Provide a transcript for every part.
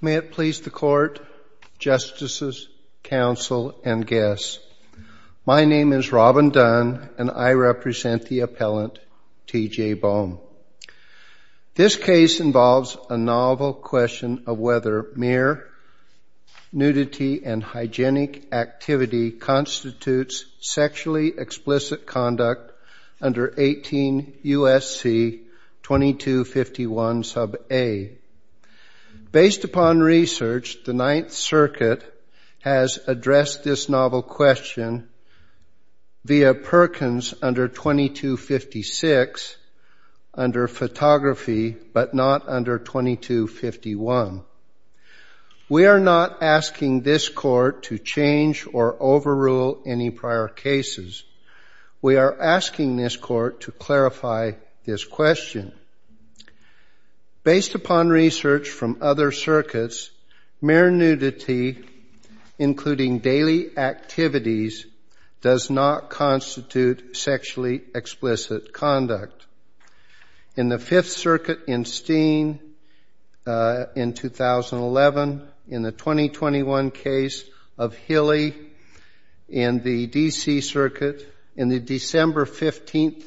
May it please the Court, Justices, Counsel, and Guests. My name is Robin Dunn, and I represent the appellant, T. J. Boam. This case involves a novel question of whether mere nudity and hygienic activity constitutes sexually explicit conduct under 18 U.S.C. 2251 sub a. Based upon research, the Ninth Circuit has addressed this novel question via Perkins under 2256 under photography, but not under 2251. We are not asking this Court to change or overrule any prior cases. We are asking this Court to clarify this question. Based upon research from other circuits, mere nudity, including daily activities, does not constitute sexually explicit conduct. In the Fifth Circuit in Steen in 2011, in the 2021 case of Hilley in the D.C. Circuit, in the December 15,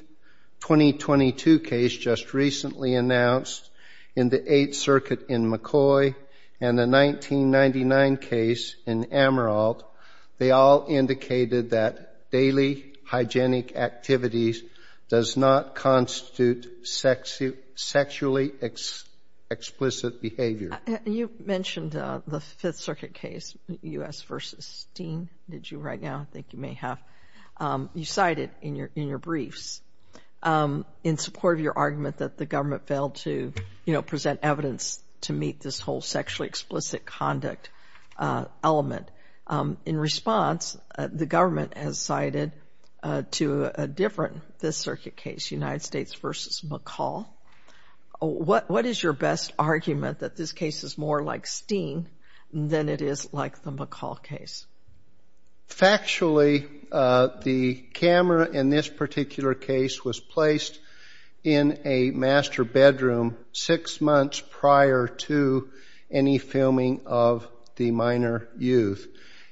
2022 case just recently announced, in the Eighth Circuit in McCoy, and the 1999 case in Amaralt, they all indicated that daily hygienic activities does not constitute sexually explicit behavior. You mentioned the Fifth Circuit case, U.S. v. Steen, did you right now? I think you may have. You cited in your briefs, in support of your argument that the government failed to, you know, present evidence to meet this whole sexually explicit conduct element. In response, the government has cited to a different Fifth Circuit case, United States v. McCall. What is your best argument that this case is more like Steen than it is like the McCall case? Factually, the camera in this particular case was placed in a master bedroom six months prior to any filming of the minor youth.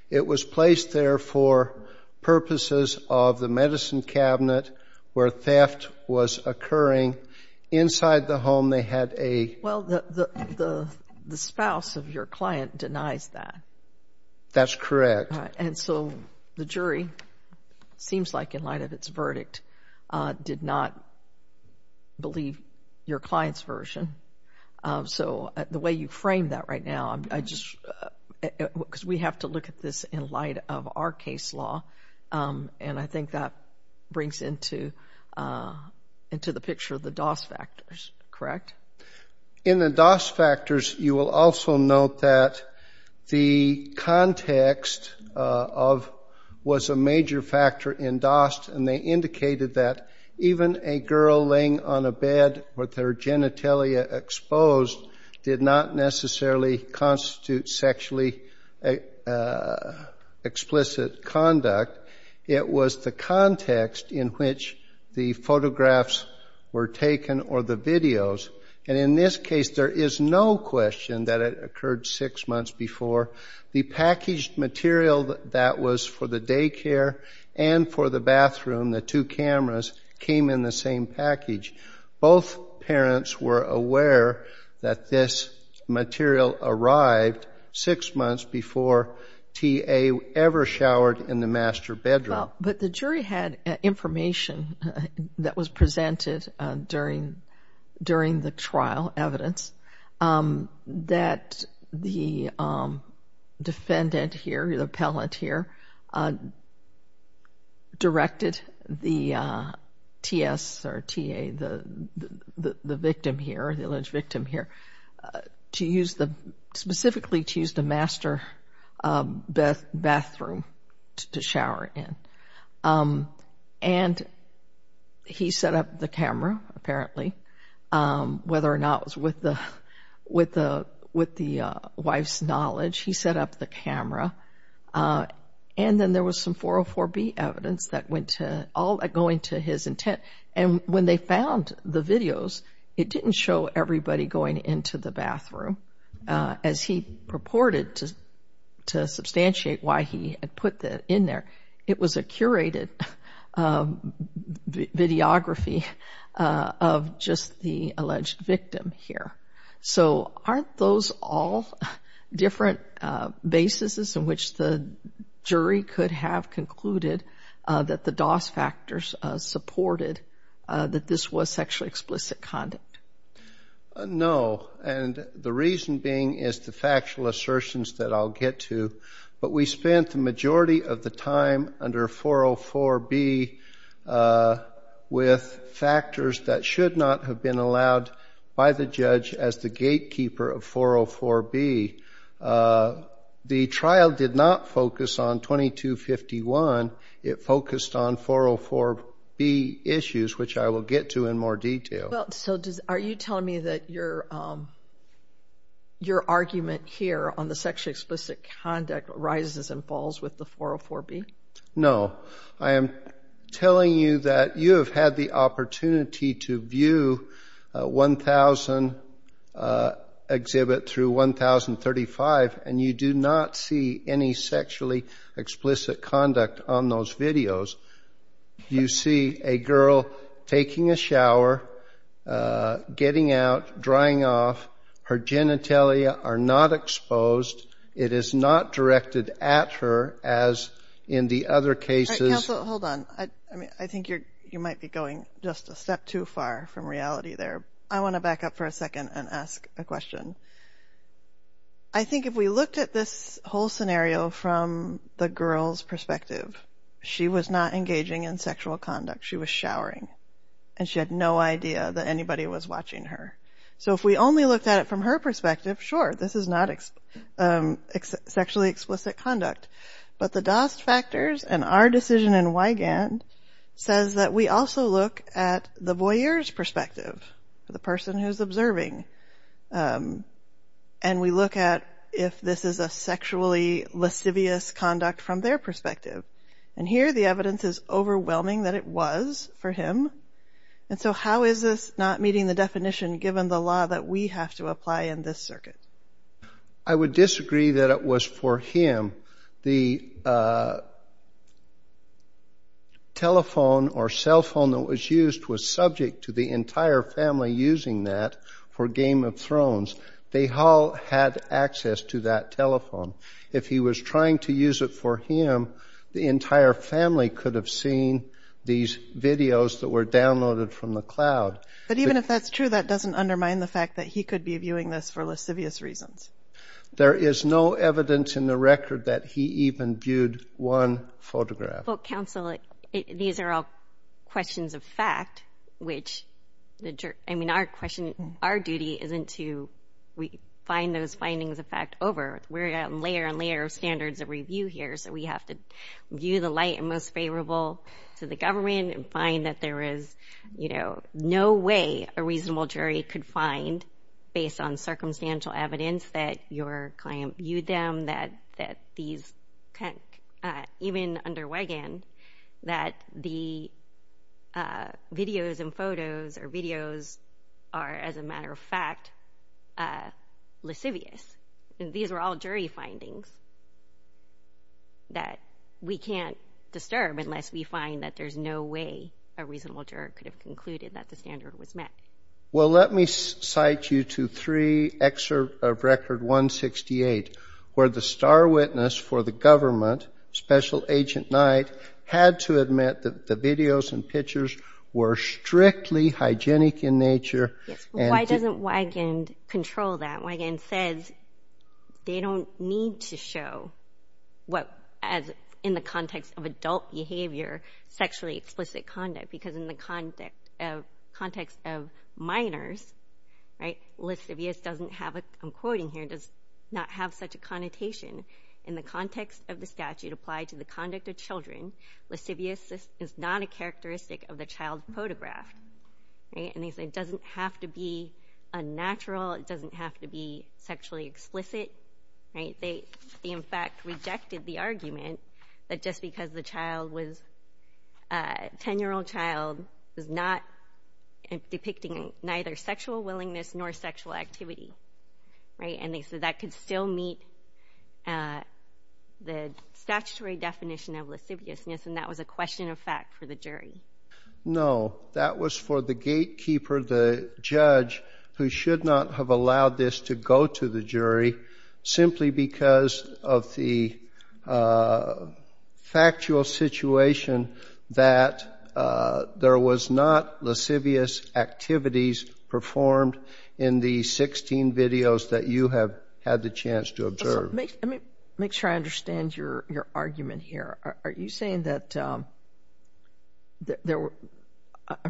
It was placed there for purposes of the medicine cabinet where theft was occurring. Inside the home, they had a... Well, the spouse of your client denies that. That's correct. And so the jury, seems like in light of its verdict, did not believe your client's version. So the way you frame that right now, I just, because we have to look at this in light of our case law, and I think that brings into the picture the DOS factors, correct? In the DOS factors, you will also note that the context of...was a major factor in DOS, and they indicated that even a girl laying on a bed with her genitalia exposed did not necessarily constitute sexually explicit conduct. It was the context in which the photographs were taken or the videos, and in this case, there is no question that it occurred six months before. The packaged material that was for the daycare and for the bathroom, the two cameras, came in the same package. Both parents were aware that this material arrived six months before T.A. ever showered in the master bedroom. Well, but the jury had information that was presented during the trial evidence that the defendant here, the appellant here, directed the T.S. or T.A., the victim here, the alleged to shower in, and he set up the camera, apparently, whether or not it was with the wife's knowledge. He set up the camera, and then there was some 404B evidence that went to...all going to his intent, and when they found the videos, it didn't show everybody going into the bathroom as he purported to substantiate why he had put that in there. It was a curated videography of just the alleged victim here. So aren't those all different bases in which the jury could have concluded that the DOS factors supported that this was sexually explicit conduct? No, and the reason being is the factual assertions that I'll get to, but we spent the majority of the time under 404B with factors that should not have been allowed by the judge as the gatekeeper of 404B. The trial did not focus on 2251. It focused on 404B issues, which I will get to in more detail. Well, so are you telling me that your argument here on the sexually explicit conduct rises and falls with the 404B? No. I am telling you that you have had the opportunity to view 1000 exhibit through 1035, and you do not see any sexually explicit conduct on those videos. You see a girl taking a shower, getting out, drying off. Her genitalia are not exposed. It is not directed at her as in the other cases. Counsel, hold on. I mean, I think you might be going just a step too far from reality there. I want to back up for a second and ask a question. I think if we looked at this whole scenario from the girl's perspective. She was not engaging in sexual conduct. She was showering, and she had no idea that anybody was watching her. So if we only looked at it from her perspective, sure, this is not sexually explicit conduct. But the DOST factors and our decision in Wigand says that we also look at the voyeur's perspective, the person who's observing, and we look at if this is a sexually lascivious conduct from their perspective. And here the evidence is overwhelming that it was for him. And so how is this not meeting the definition given the law that we have to apply in this circuit? I would disagree that it was for him. The telephone or cell phone that was used was subject to the entire family using that for Game of Thrones. They all had access to that telephone. If he was trying to use it for him, the entire family could have seen these videos that were downloaded from the cloud. But even if that's true, that doesn't undermine the fact that he could be viewing this for lascivious reasons. There is no evidence in the record that he even viewed one photograph. Well, counsel, these are all questions of fact, which, I mean, our duty isn't to find those findings of fact over. We're at layer and layer of standards of review here, so we have to view the light and most favorable to the government and find that there is, you know, no way a reasonable jury could find, based on circumstantial evidence, that your client viewed them, that these, even under Wegan, that the videos and photos or videos are, as a matter of fact, lascivious. These are all jury findings that we can't disturb unless we find that there's no way a reasonable juror could have concluded that the standard was met. Well, let me cite you to three excerpts of Record 168, where the star witness for the government, Special Agent Knight, had to admit that the videos and pictures were strictly hygienic in nature. Yes, but why doesn't Wegan control that? Wegan says they don't need to show what, as in the context of adult behavior, sexually explicit conduct, because in the context of minors, right, lascivious doesn't have a, I'm quoting here, does not have such a connotation. In the context of the statute applied to the conduct of children, lascivious is not a characteristic of the child photographed, right, and they say it doesn't have to be unnatural, it doesn't have to be sexually explicit, right, they, in fact, rejected the argument that just because the child was, a 10-year-old child was not depicting neither sexual willingness nor sexual activity, right, and they said that could still meet the statutory definition of lasciviousness, and that was a question of fact for the jury. No, that was for the gatekeeper, the judge, who should not have allowed this to go to the jury, simply because of the factual situation that there was not lascivious activities performed in the 16 videos that you have had the chance to observe. Let me make sure I understand your argument here. Are you saying that, I'm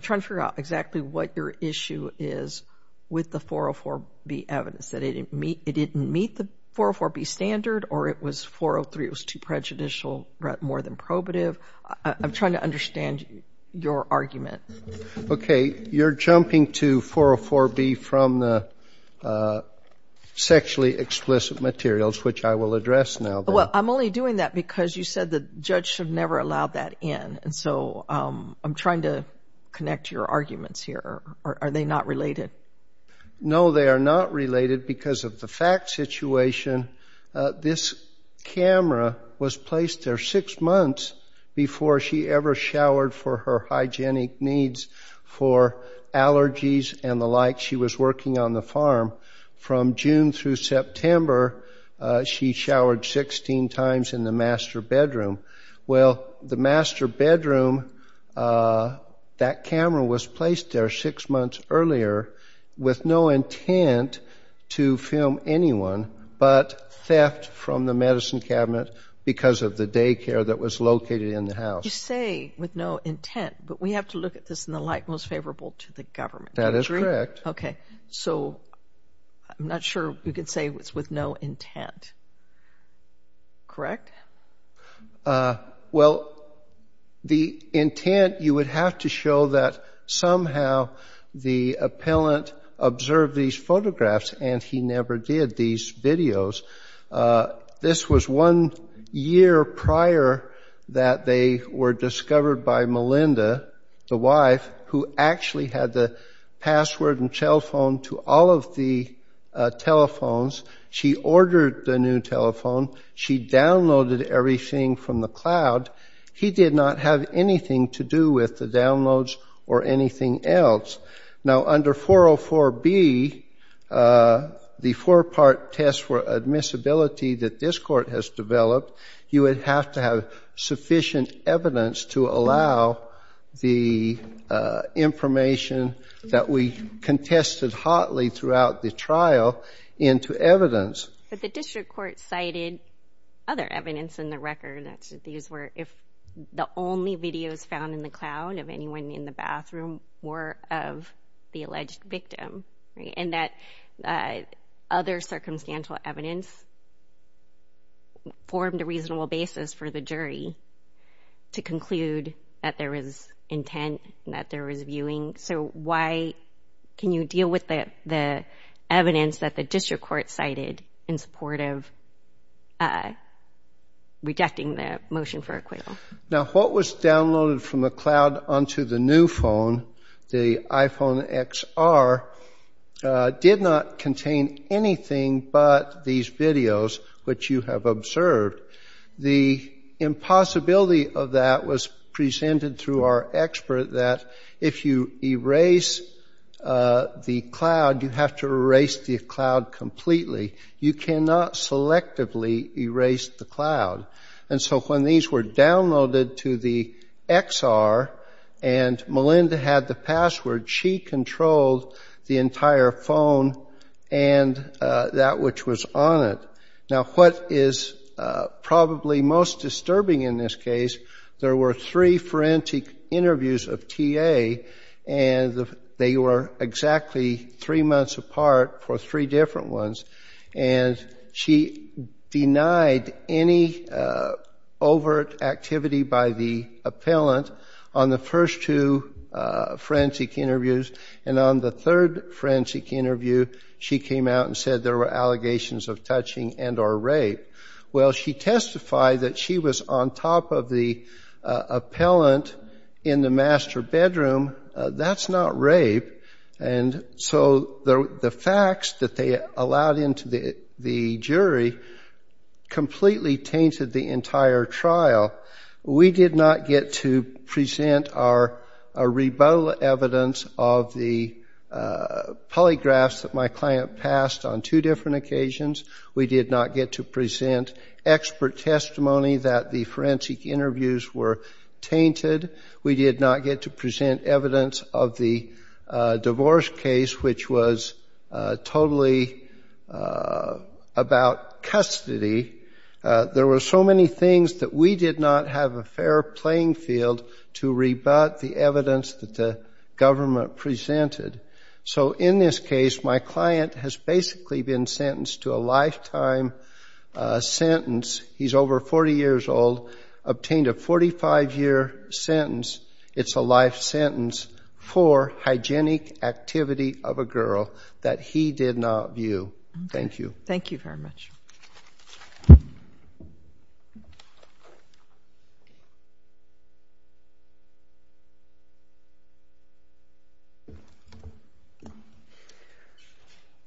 trying to figure out exactly what your issue is with the 404B evidence, that it didn't meet the 404B standard or it was 403, it was too prejudicial, more than probative. I'm trying to understand your argument. Okay, you're jumping to 404B from the sexually explicit materials, right, and you're saying that, which I will address now. Well, I'm only doing that because you said the judge should never allow that in, and so I'm trying to connect your arguments here. Are they not related? No, they are not related because of the fact situation. This camera was placed there six months before she ever showered for her hygienic needs for allergies and the like. She was working on the farm from June through September. She showered 16 times in the master bedroom. Well, the master bedroom, that camera was placed there six months earlier with no intent to film anyone but theft from the medicine cabinet because of the daycare that was located in the house. You say with no intent, but we have to look at this in the light most favorable to the government. That is correct. Okay, so I'm not sure we could say it's with no intent. Correct? Well, the intent, you would have to show that somehow the appellant observed these photographs and he never did these videos. This was one year prior that they were discovered by Melinda, the wife, who actually had the password and cell phone to all of the telephones. She ordered the new telephone. She downloaded everything from the cloud. He did not have anything to do with the downloads or anything else. Now under 404B, the four-part test for admissibility that this court has developed, you would have to have sufficient evidence to allow the information that we contested hotly throughout the trial into evidence. But the district court cited other evidence in the record. These were if the only videos found in the cloud of anyone in the bathroom were of the alleged victim and that other circumstantial evidence formed a reasonable basis for the jury to conclude that there was intent, that there was viewing. So why can you deal with the evidence that the district court cited in support of rejecting the motion for acquittal? Now what was downloaded from the cloud onto the new phone, the iPhone XR, did not contain anything but these videos which you have observed. The impossibility of that was presented through our expert that if you erase the cloud, you have to erase the cloud completely. You cannot selectively erase the cloud. And so when these were downloaded to the XR and Melinda had the password, she controlled the entire phone and that which was on it. Now what is probably most disturbing in this case, there were three forensic interviews of TA, and they were exactly three months apart for three different ones. And she denied any overt activity by the appellant on the first two forensic interviews. And on the third forensic interview, she came out and said there were allegations of touching and or rape. Well, she testified that she was on top of the appellant in the master bedroom. That's not rape. And so the facts that they allowed into the jury completely disproved and completely tainted the entire trial. We did not get to present our rebuttal evidence of the polygraphs that my client passed on two different occasions. We did not get to present expert testimony that the forensic interviews were tainted. We did not get to present evidence of the divorce case, which was totally about custody. There were so many things that we did not have a fair playing field to rebut the evidence that the government presented. So in this case, my client has basically been sentenced to a lifetime sentence. He's over 40 years old, obtained a 45-year sentence. It's a life sentence for hygienic activity of a girl that he did not view. Thank you. Thank you very much.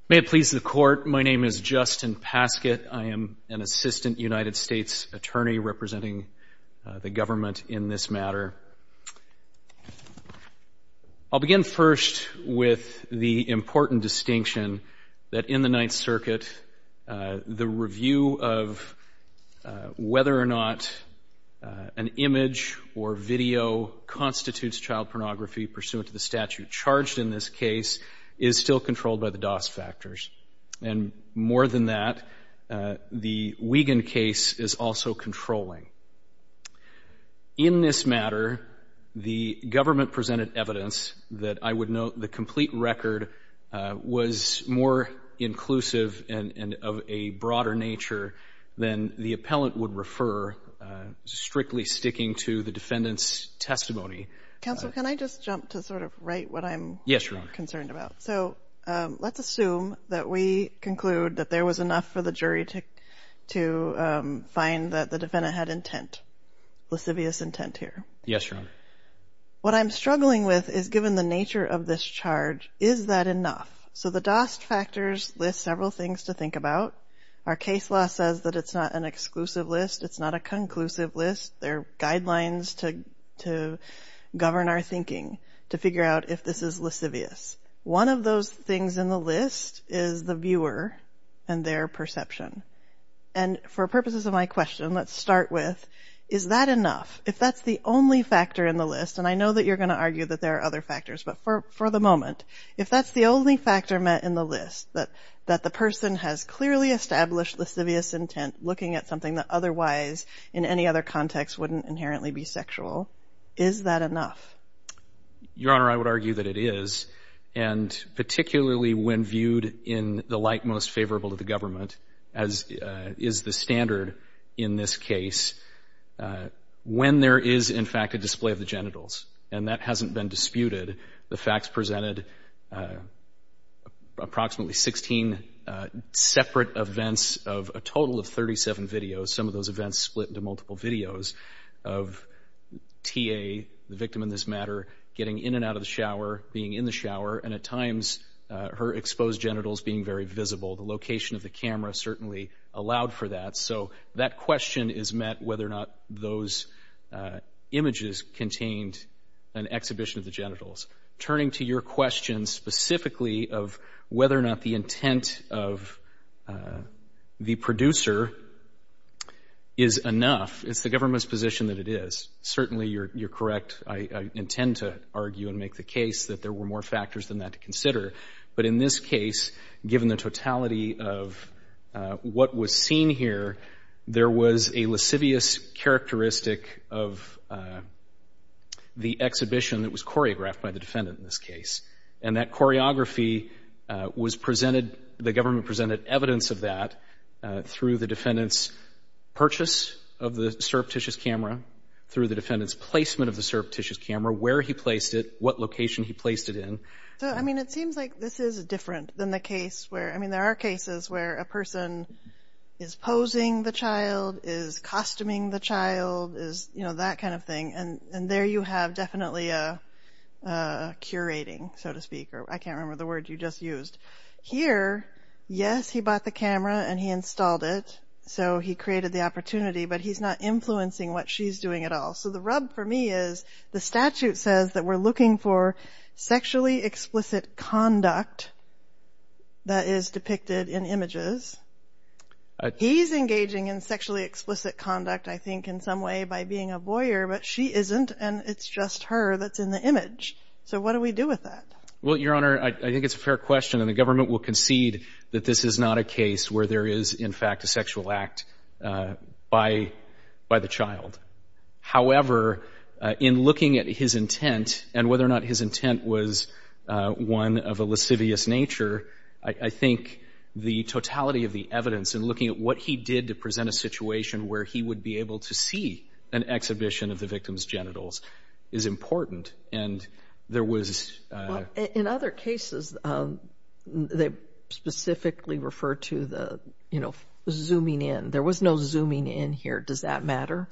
May it please the Court, my name is Justin Paskett. I am an assistant United States attorney representing the government in this matter. I'll begin first with the important distinction that in the Ninth Circuit, the review of whether or not an image or video constitutes child pornography pursuant to the statute charged in this case is still controlled by the DOS factors. And more than that, the Wiegand case is also controlling. In this matter, the government presented evidence that I would note the complete record was more inclusive and of a broader nature than the appellant would refer, strictly sticking to the defendant's testimony. Counsel, can I just jump to sort of right what I'm concerned about? So let's assume that we conclude that there was enough for the jury to find that the defendant had intent, lascivious intent here. Yes, Your Honor. What I'm struggling with is given the nature of this charge, is that enough? So the DOS factors list several things to think about. Our case law says that it's not an exclusive list. It's not a conclusive list. There are guidelines to govern our thinking to figure out if this is lascivious. One of those things in the list is the viewer and their perception. And for purposes of my question, let's start with is that enough? If that's the only factor in the list, and I know that you're going to argue that there are other factors, but for the moment, if that's the only factor met in the list, that the person has clearly established lascivious intent looking at something that otherwise in any other context wouldn't inherently be sexual, is that enough? Your Honor, I would argue that it is. And particularly when viewed in the light most when there is, in fact, a display of the genitals. And that hasn't been disputed. The facts presented approximately 16 separate events of a total of 37 videos. Some of those events split into multiple videos of T.A., the victim in this matter, getting in and out of the shower, being in the shower, and at times her exposed genitals being very visible. The location of whether or not those images contained an exhibition of the genitals. Turning to your question specifically of whether or not the intent of the producer is enough, it's the government's position that it is. Certainly, you're correct. I intend to argue and make the case that there were more factors than that to consider. But in this case, given the totality of what was seen here, there was a lascivious characteristic of the exhibition that was choreographed by the defendant in this case. And that choreography was presented, the government presented evidence of that through the defendant's purchase of the surreptitious camera, through the defendant's placement of the surreptitious camera, where he placed it, what location he placed it in. So, I mean, it seems like this is different than the case where, I mean, there are cases where a person is posing the child, is costuming the child, is, you know, that kind of thing. And there you have definitely a curating, so to speak, or I can't remember the word you just used. Here, yes, he bought the camera and he installed it. So he created the opportunity, but he's not influencing what she's doing at all. So the rub for me is the statute says that we're looking for sexually explicit conduct that is depicted in images. He's engaging in sexually explicit conduct, I think, in some way by being a voyeur, but she isn't, and it's just her that's in the image. So what do we do with that? Well, Your Honor, I think it's a fair question, and the government will concede that this is not a case where there is, in fact, a sexual act by the child. However, in looking at his intent, and whether or not his intent was one of a lascivious nature, I think the totality of the evidence in looking at what he did to present a situation where he would be able to see an exhibition of the victim's genitals is important, and there was... In other cases, they specifically refer to the, you know, zooming in. There was no zooming in here. Does that matter?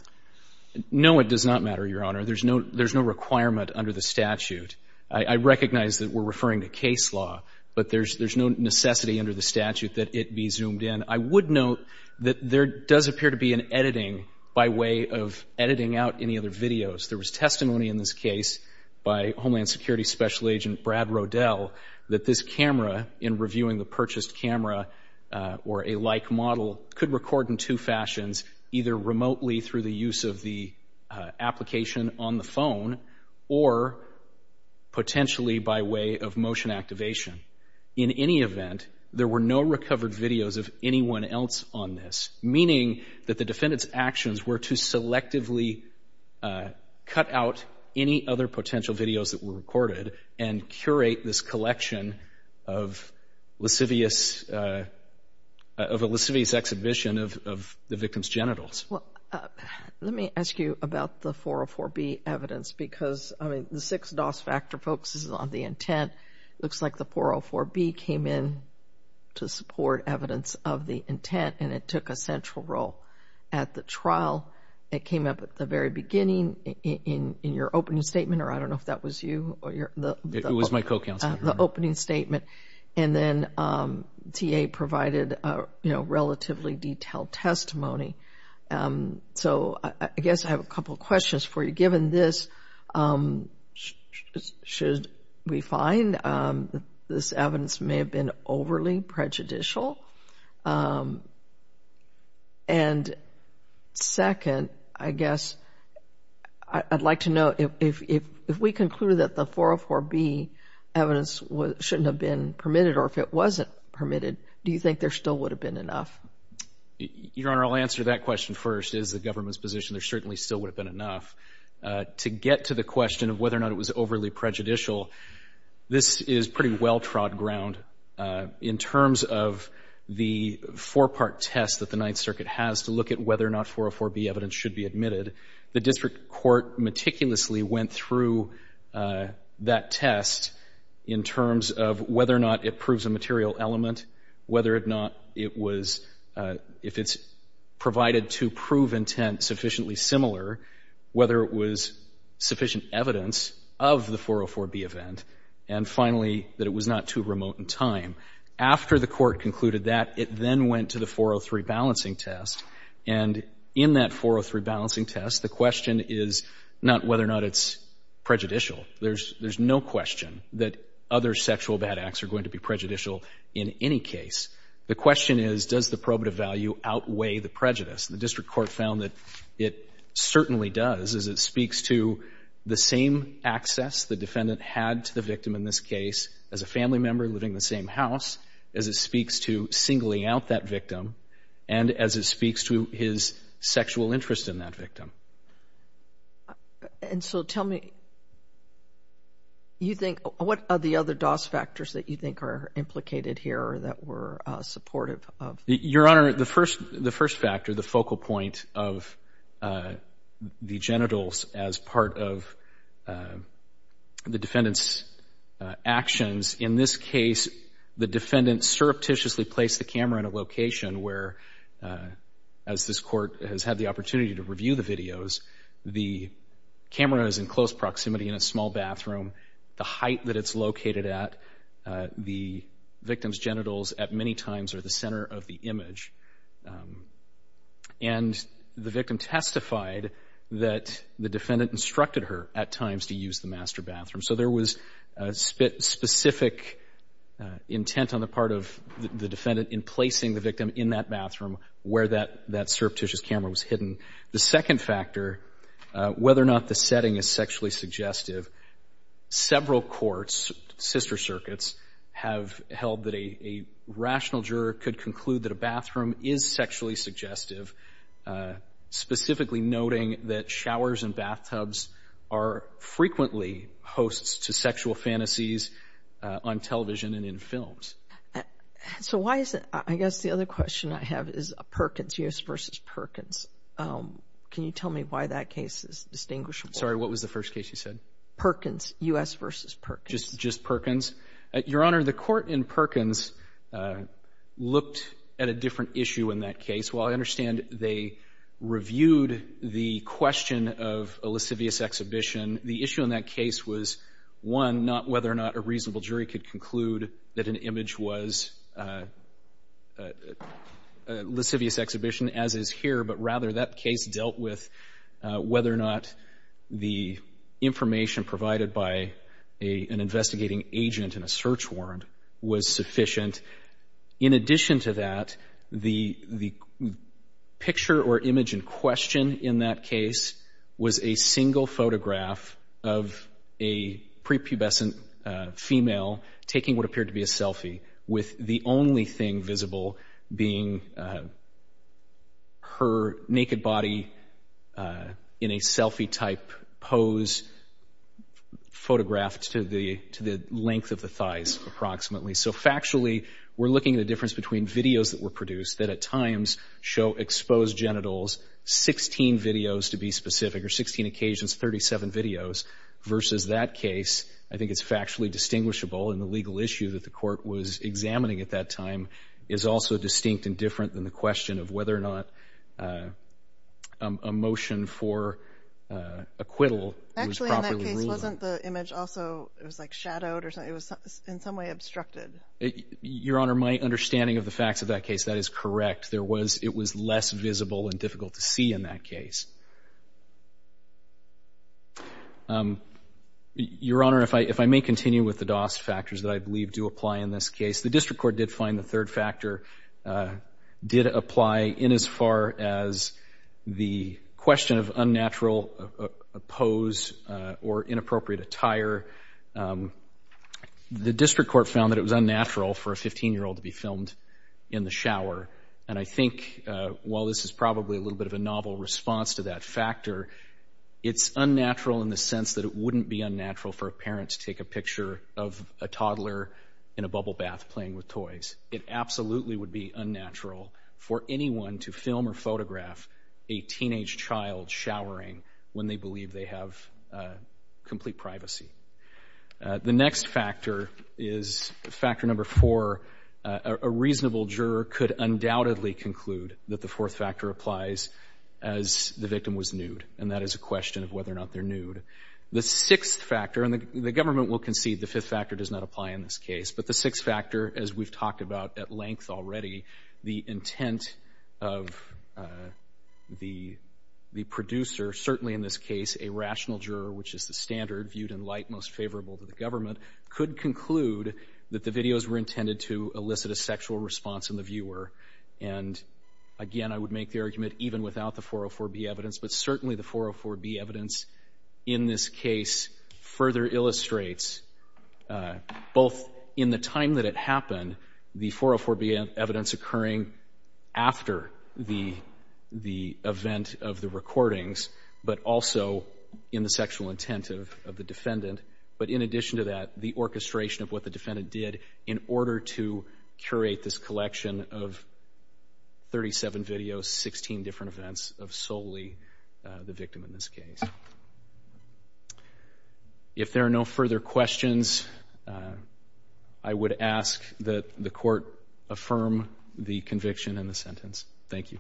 No, it does not matter, Your Honor. There's no requirement under the statute. I recognize that we're referring to case law, but there's no necessity under the statute that it be zoomed in. I would note that there does appear to be an editing by way of editing out any other videos. There was testimony in this case by Homeland Security Special Agent Brad Rodell that this camera, in reviewing the purchased camera or a like model, could record in two fashions, either remotely through the use of the application on the phone or potentially by way of motion activation. In any event, there were no recovered videos of anyone else on this, meaning that the defendant's actions were to selectively cut out any other potential videos that were recorded and curate this collection of lascivious, of a lascivious exhibition of the victim's genitals. Well, let me ask you about the 404B evidence, because, I mean, the six DOS factor focuses on the intent. It looks like the 404B came in to support evidence of the intent, and it took a central role at the trial. It came up at the very beginning in your opening statement, or I don't know if that was you or your... opening statement, and then TA provided, you know, relatively detailed testimony. So, I guess I have a couple questions for you. Given this, should we find this evidence may have been overly prejudicial? And second, I guess, I'd like to know if we concluded that the 404B evidence shouldn't have been permitted, or if it wasn't permitted, do you think there still would have been enough? Your Honor, I'll answer that question first. As the government's position, there certainly still would have been enough. To get to the question of whether or not it was overly prejudicial, this is pretty well-trod ground. In terms of the four-part test that the Ninth Circuit has to look at whether or not 404B evidence should be admitted, the district court meticulously went through that test in terms of whether or not it proves a material element, whether or not it was, if it's provided to prove intent sufficiently similar, whether it was sufficient evidence of the 404B event, and finally, that it was not too remote in time. After the court concluded that, it then went to the 403 balancing test, and in that 403 balancing test, the district court found that it's prejudicial. There's no question that other sexual bad acts are going to be prejudicial in any case. The question is, does the probative value outweigh the prejudice? The district court found that it certainly does, as it speaks to the same access the defendant had to the victim in this case, as a family member living in the same house, as it speaks to singling out that victim, and as it speaks to his sexual interest in that victim. And so tell me, you think, what are the other DOS factors that you think are implicated here that were supportive of? Your Honor, the first factor, the focal point of the genitals as part of the defendant's actions, in this case, the defendant surreptitiously placed the camera in a location where, as this court has had the opportunity to review the videos, the camera is in close proximity in a small bathroom. The height that it's located at the victim's genitals at many times are the center of the image. And the victim testified that the defendant instructed her at times to use the master bathroom. So there was specific intent on the part of the defendant in placing the victim in that bathroom where that surreptitious camera was hidden. The second factor, whether or not the setting is sexually suggestive, several courts, sister circuits, have held that a rational juror could conclude that a bathroom is sexually suggestive, specifically noting that showers and bathtubs are frequently hosts to sexual fantasies on television and in films. So why is it, I guess the other question I have is Perkins, U.S. v. Perkins. Can you tell me why that case is distinguishable? Sorry, what was the first case you said? Perkins, U.S. v. Perkins. Just Perkins. Your Honor, the court in Perkins looked at a different issue in that case. While I understand they reviewed the question of a lascivious exhibition, the issue in that case was, one, not whether or not a reasonable jury could conclude that an image was a lascivious exhibition, as is here, but rather that case dealt with whether or not the information provided by an investigating agent in a search warrant was sufficient. In addition to that, the picture or image in question in that case was a single photograph of a prepubescent female taking what appeared to be a selfie with the only thing visible being her naked body in a selfie-type pose photographed to the length of the thighs approximately. So factually, we're looking at a difference between videos that were produced that at versus that case. I think it's factually distinguishable, and the legal issue that the court was examining at that time is also distinct and different than the question of whether or not a motion for acquittal was properly ruled on. Actually, in that case, wasn't the image also, it was like shadowed or something? It was in some way obstructed. Your Honor, my understanding of the facts of that case, that is correct. It was less visible and difficult to see in that case. Your Honor, if I may continue with the DOS factors that I believe do apply in this case, the district court did find the third factor did apply in as far as the question of unnatural pose or inappropriate attire. The district court found that it was unnatural for a 15-year-old to be filmed in the shower, and I think while this is probably a little bit of a novel response to that factor, it's unnatural in the sense that it wouldn't be unnatural for a parent to take a picture of a toddler in a bubble bath playing with toys. It absolutely would be unnatural for anyone to film or photograph a teenage child showering when they believe they have complete privacy. The next factor is factor number four. A reasonable juror could undoubtedly conclude that the victim was nude, and that is a question of whether or not they're nude. The sixth factor, and the government will concede the fifth factor does not apply in this case, but the sixth factor, as we've talked about at length already, the intent of the producer, certainly in this case, a rational juror, which is the standard viewed in light most favorable to the government, could conclude that the videos were intended to elicit a sexual response in the viewer, and again, I would make the argument even without the 404B evidence, but certainly the 404B evidence in this case further illustrates both in the time that it happened, the 404B evidence occurring after the event of the recordings, but also in the sexual intent of the defendant, but in addition to that, the orchestration of what the defendant did in order to curate this collection of 37 videos, 16 different events of solely the victim in this case. If there are no further questions, I would ask that the court affirm the conviction and the sentence. Thank you.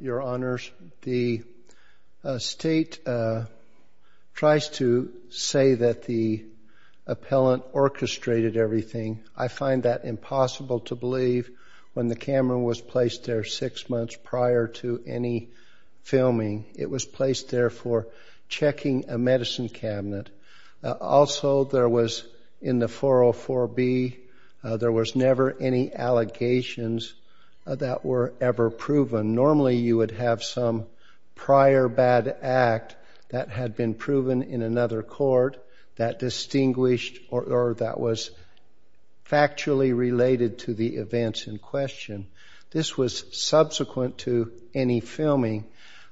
Your Honors, the State tries to say that the appellant orchestrated everything. I find that impossible to believe. When the camera was placed there six months prior to any filming, it was placed there for checking a medicine cabinet. Also, there was in the 404B, there was never any allegations that were ever proven. Normally, you would have some prior bad act that had been proven in another court that distinguished or that was factually related to the events in question. This was subsequent to any filming.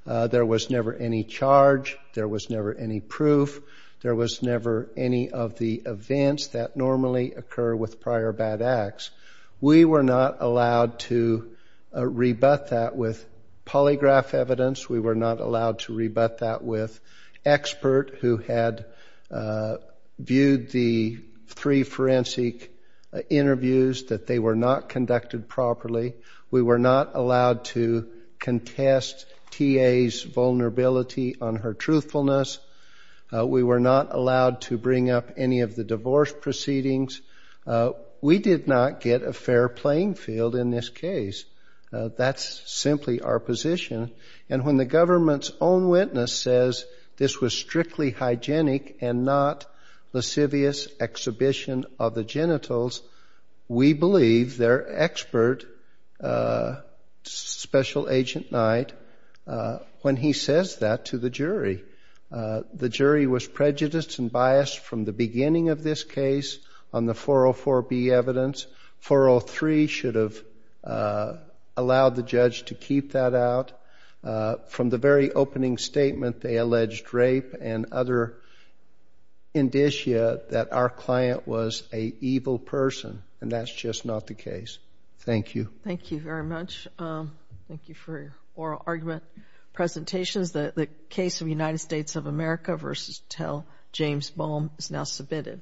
There was never any charge. There was never any proof. There was never any of the events that normally occur with prior bad acts. We were not allowed to rebut that with polygraph evidence. We were not allowed to rebut that with expert who had viewed the three forensic interviews that they were not conducted properly. We were not allowed to contest T.A.'s vulnerability on her truthfulness. We were not allowed to bring up any of the divorce proceedings. We did not get a fair playing field in this case. That's simply our position. And when the government's own witness says this was strictly hygienic and not lascivious exhibition of the genitals, we believe their expert, Special Agent Knight, when he says that to us, we believe that he to the jury. The jury was prejudiced and biased from the beginning of this case on the 404B evidence. 403 should have allowed the judge to keep that out. From the very opening statement, they alleged rape and other indicia that our client was an evil person and that's just not the case. Thank you. Thank you very much. Thank you for your oral argument. Presentations, the case of United States of America v. Tell, James Boehm, is now submitted.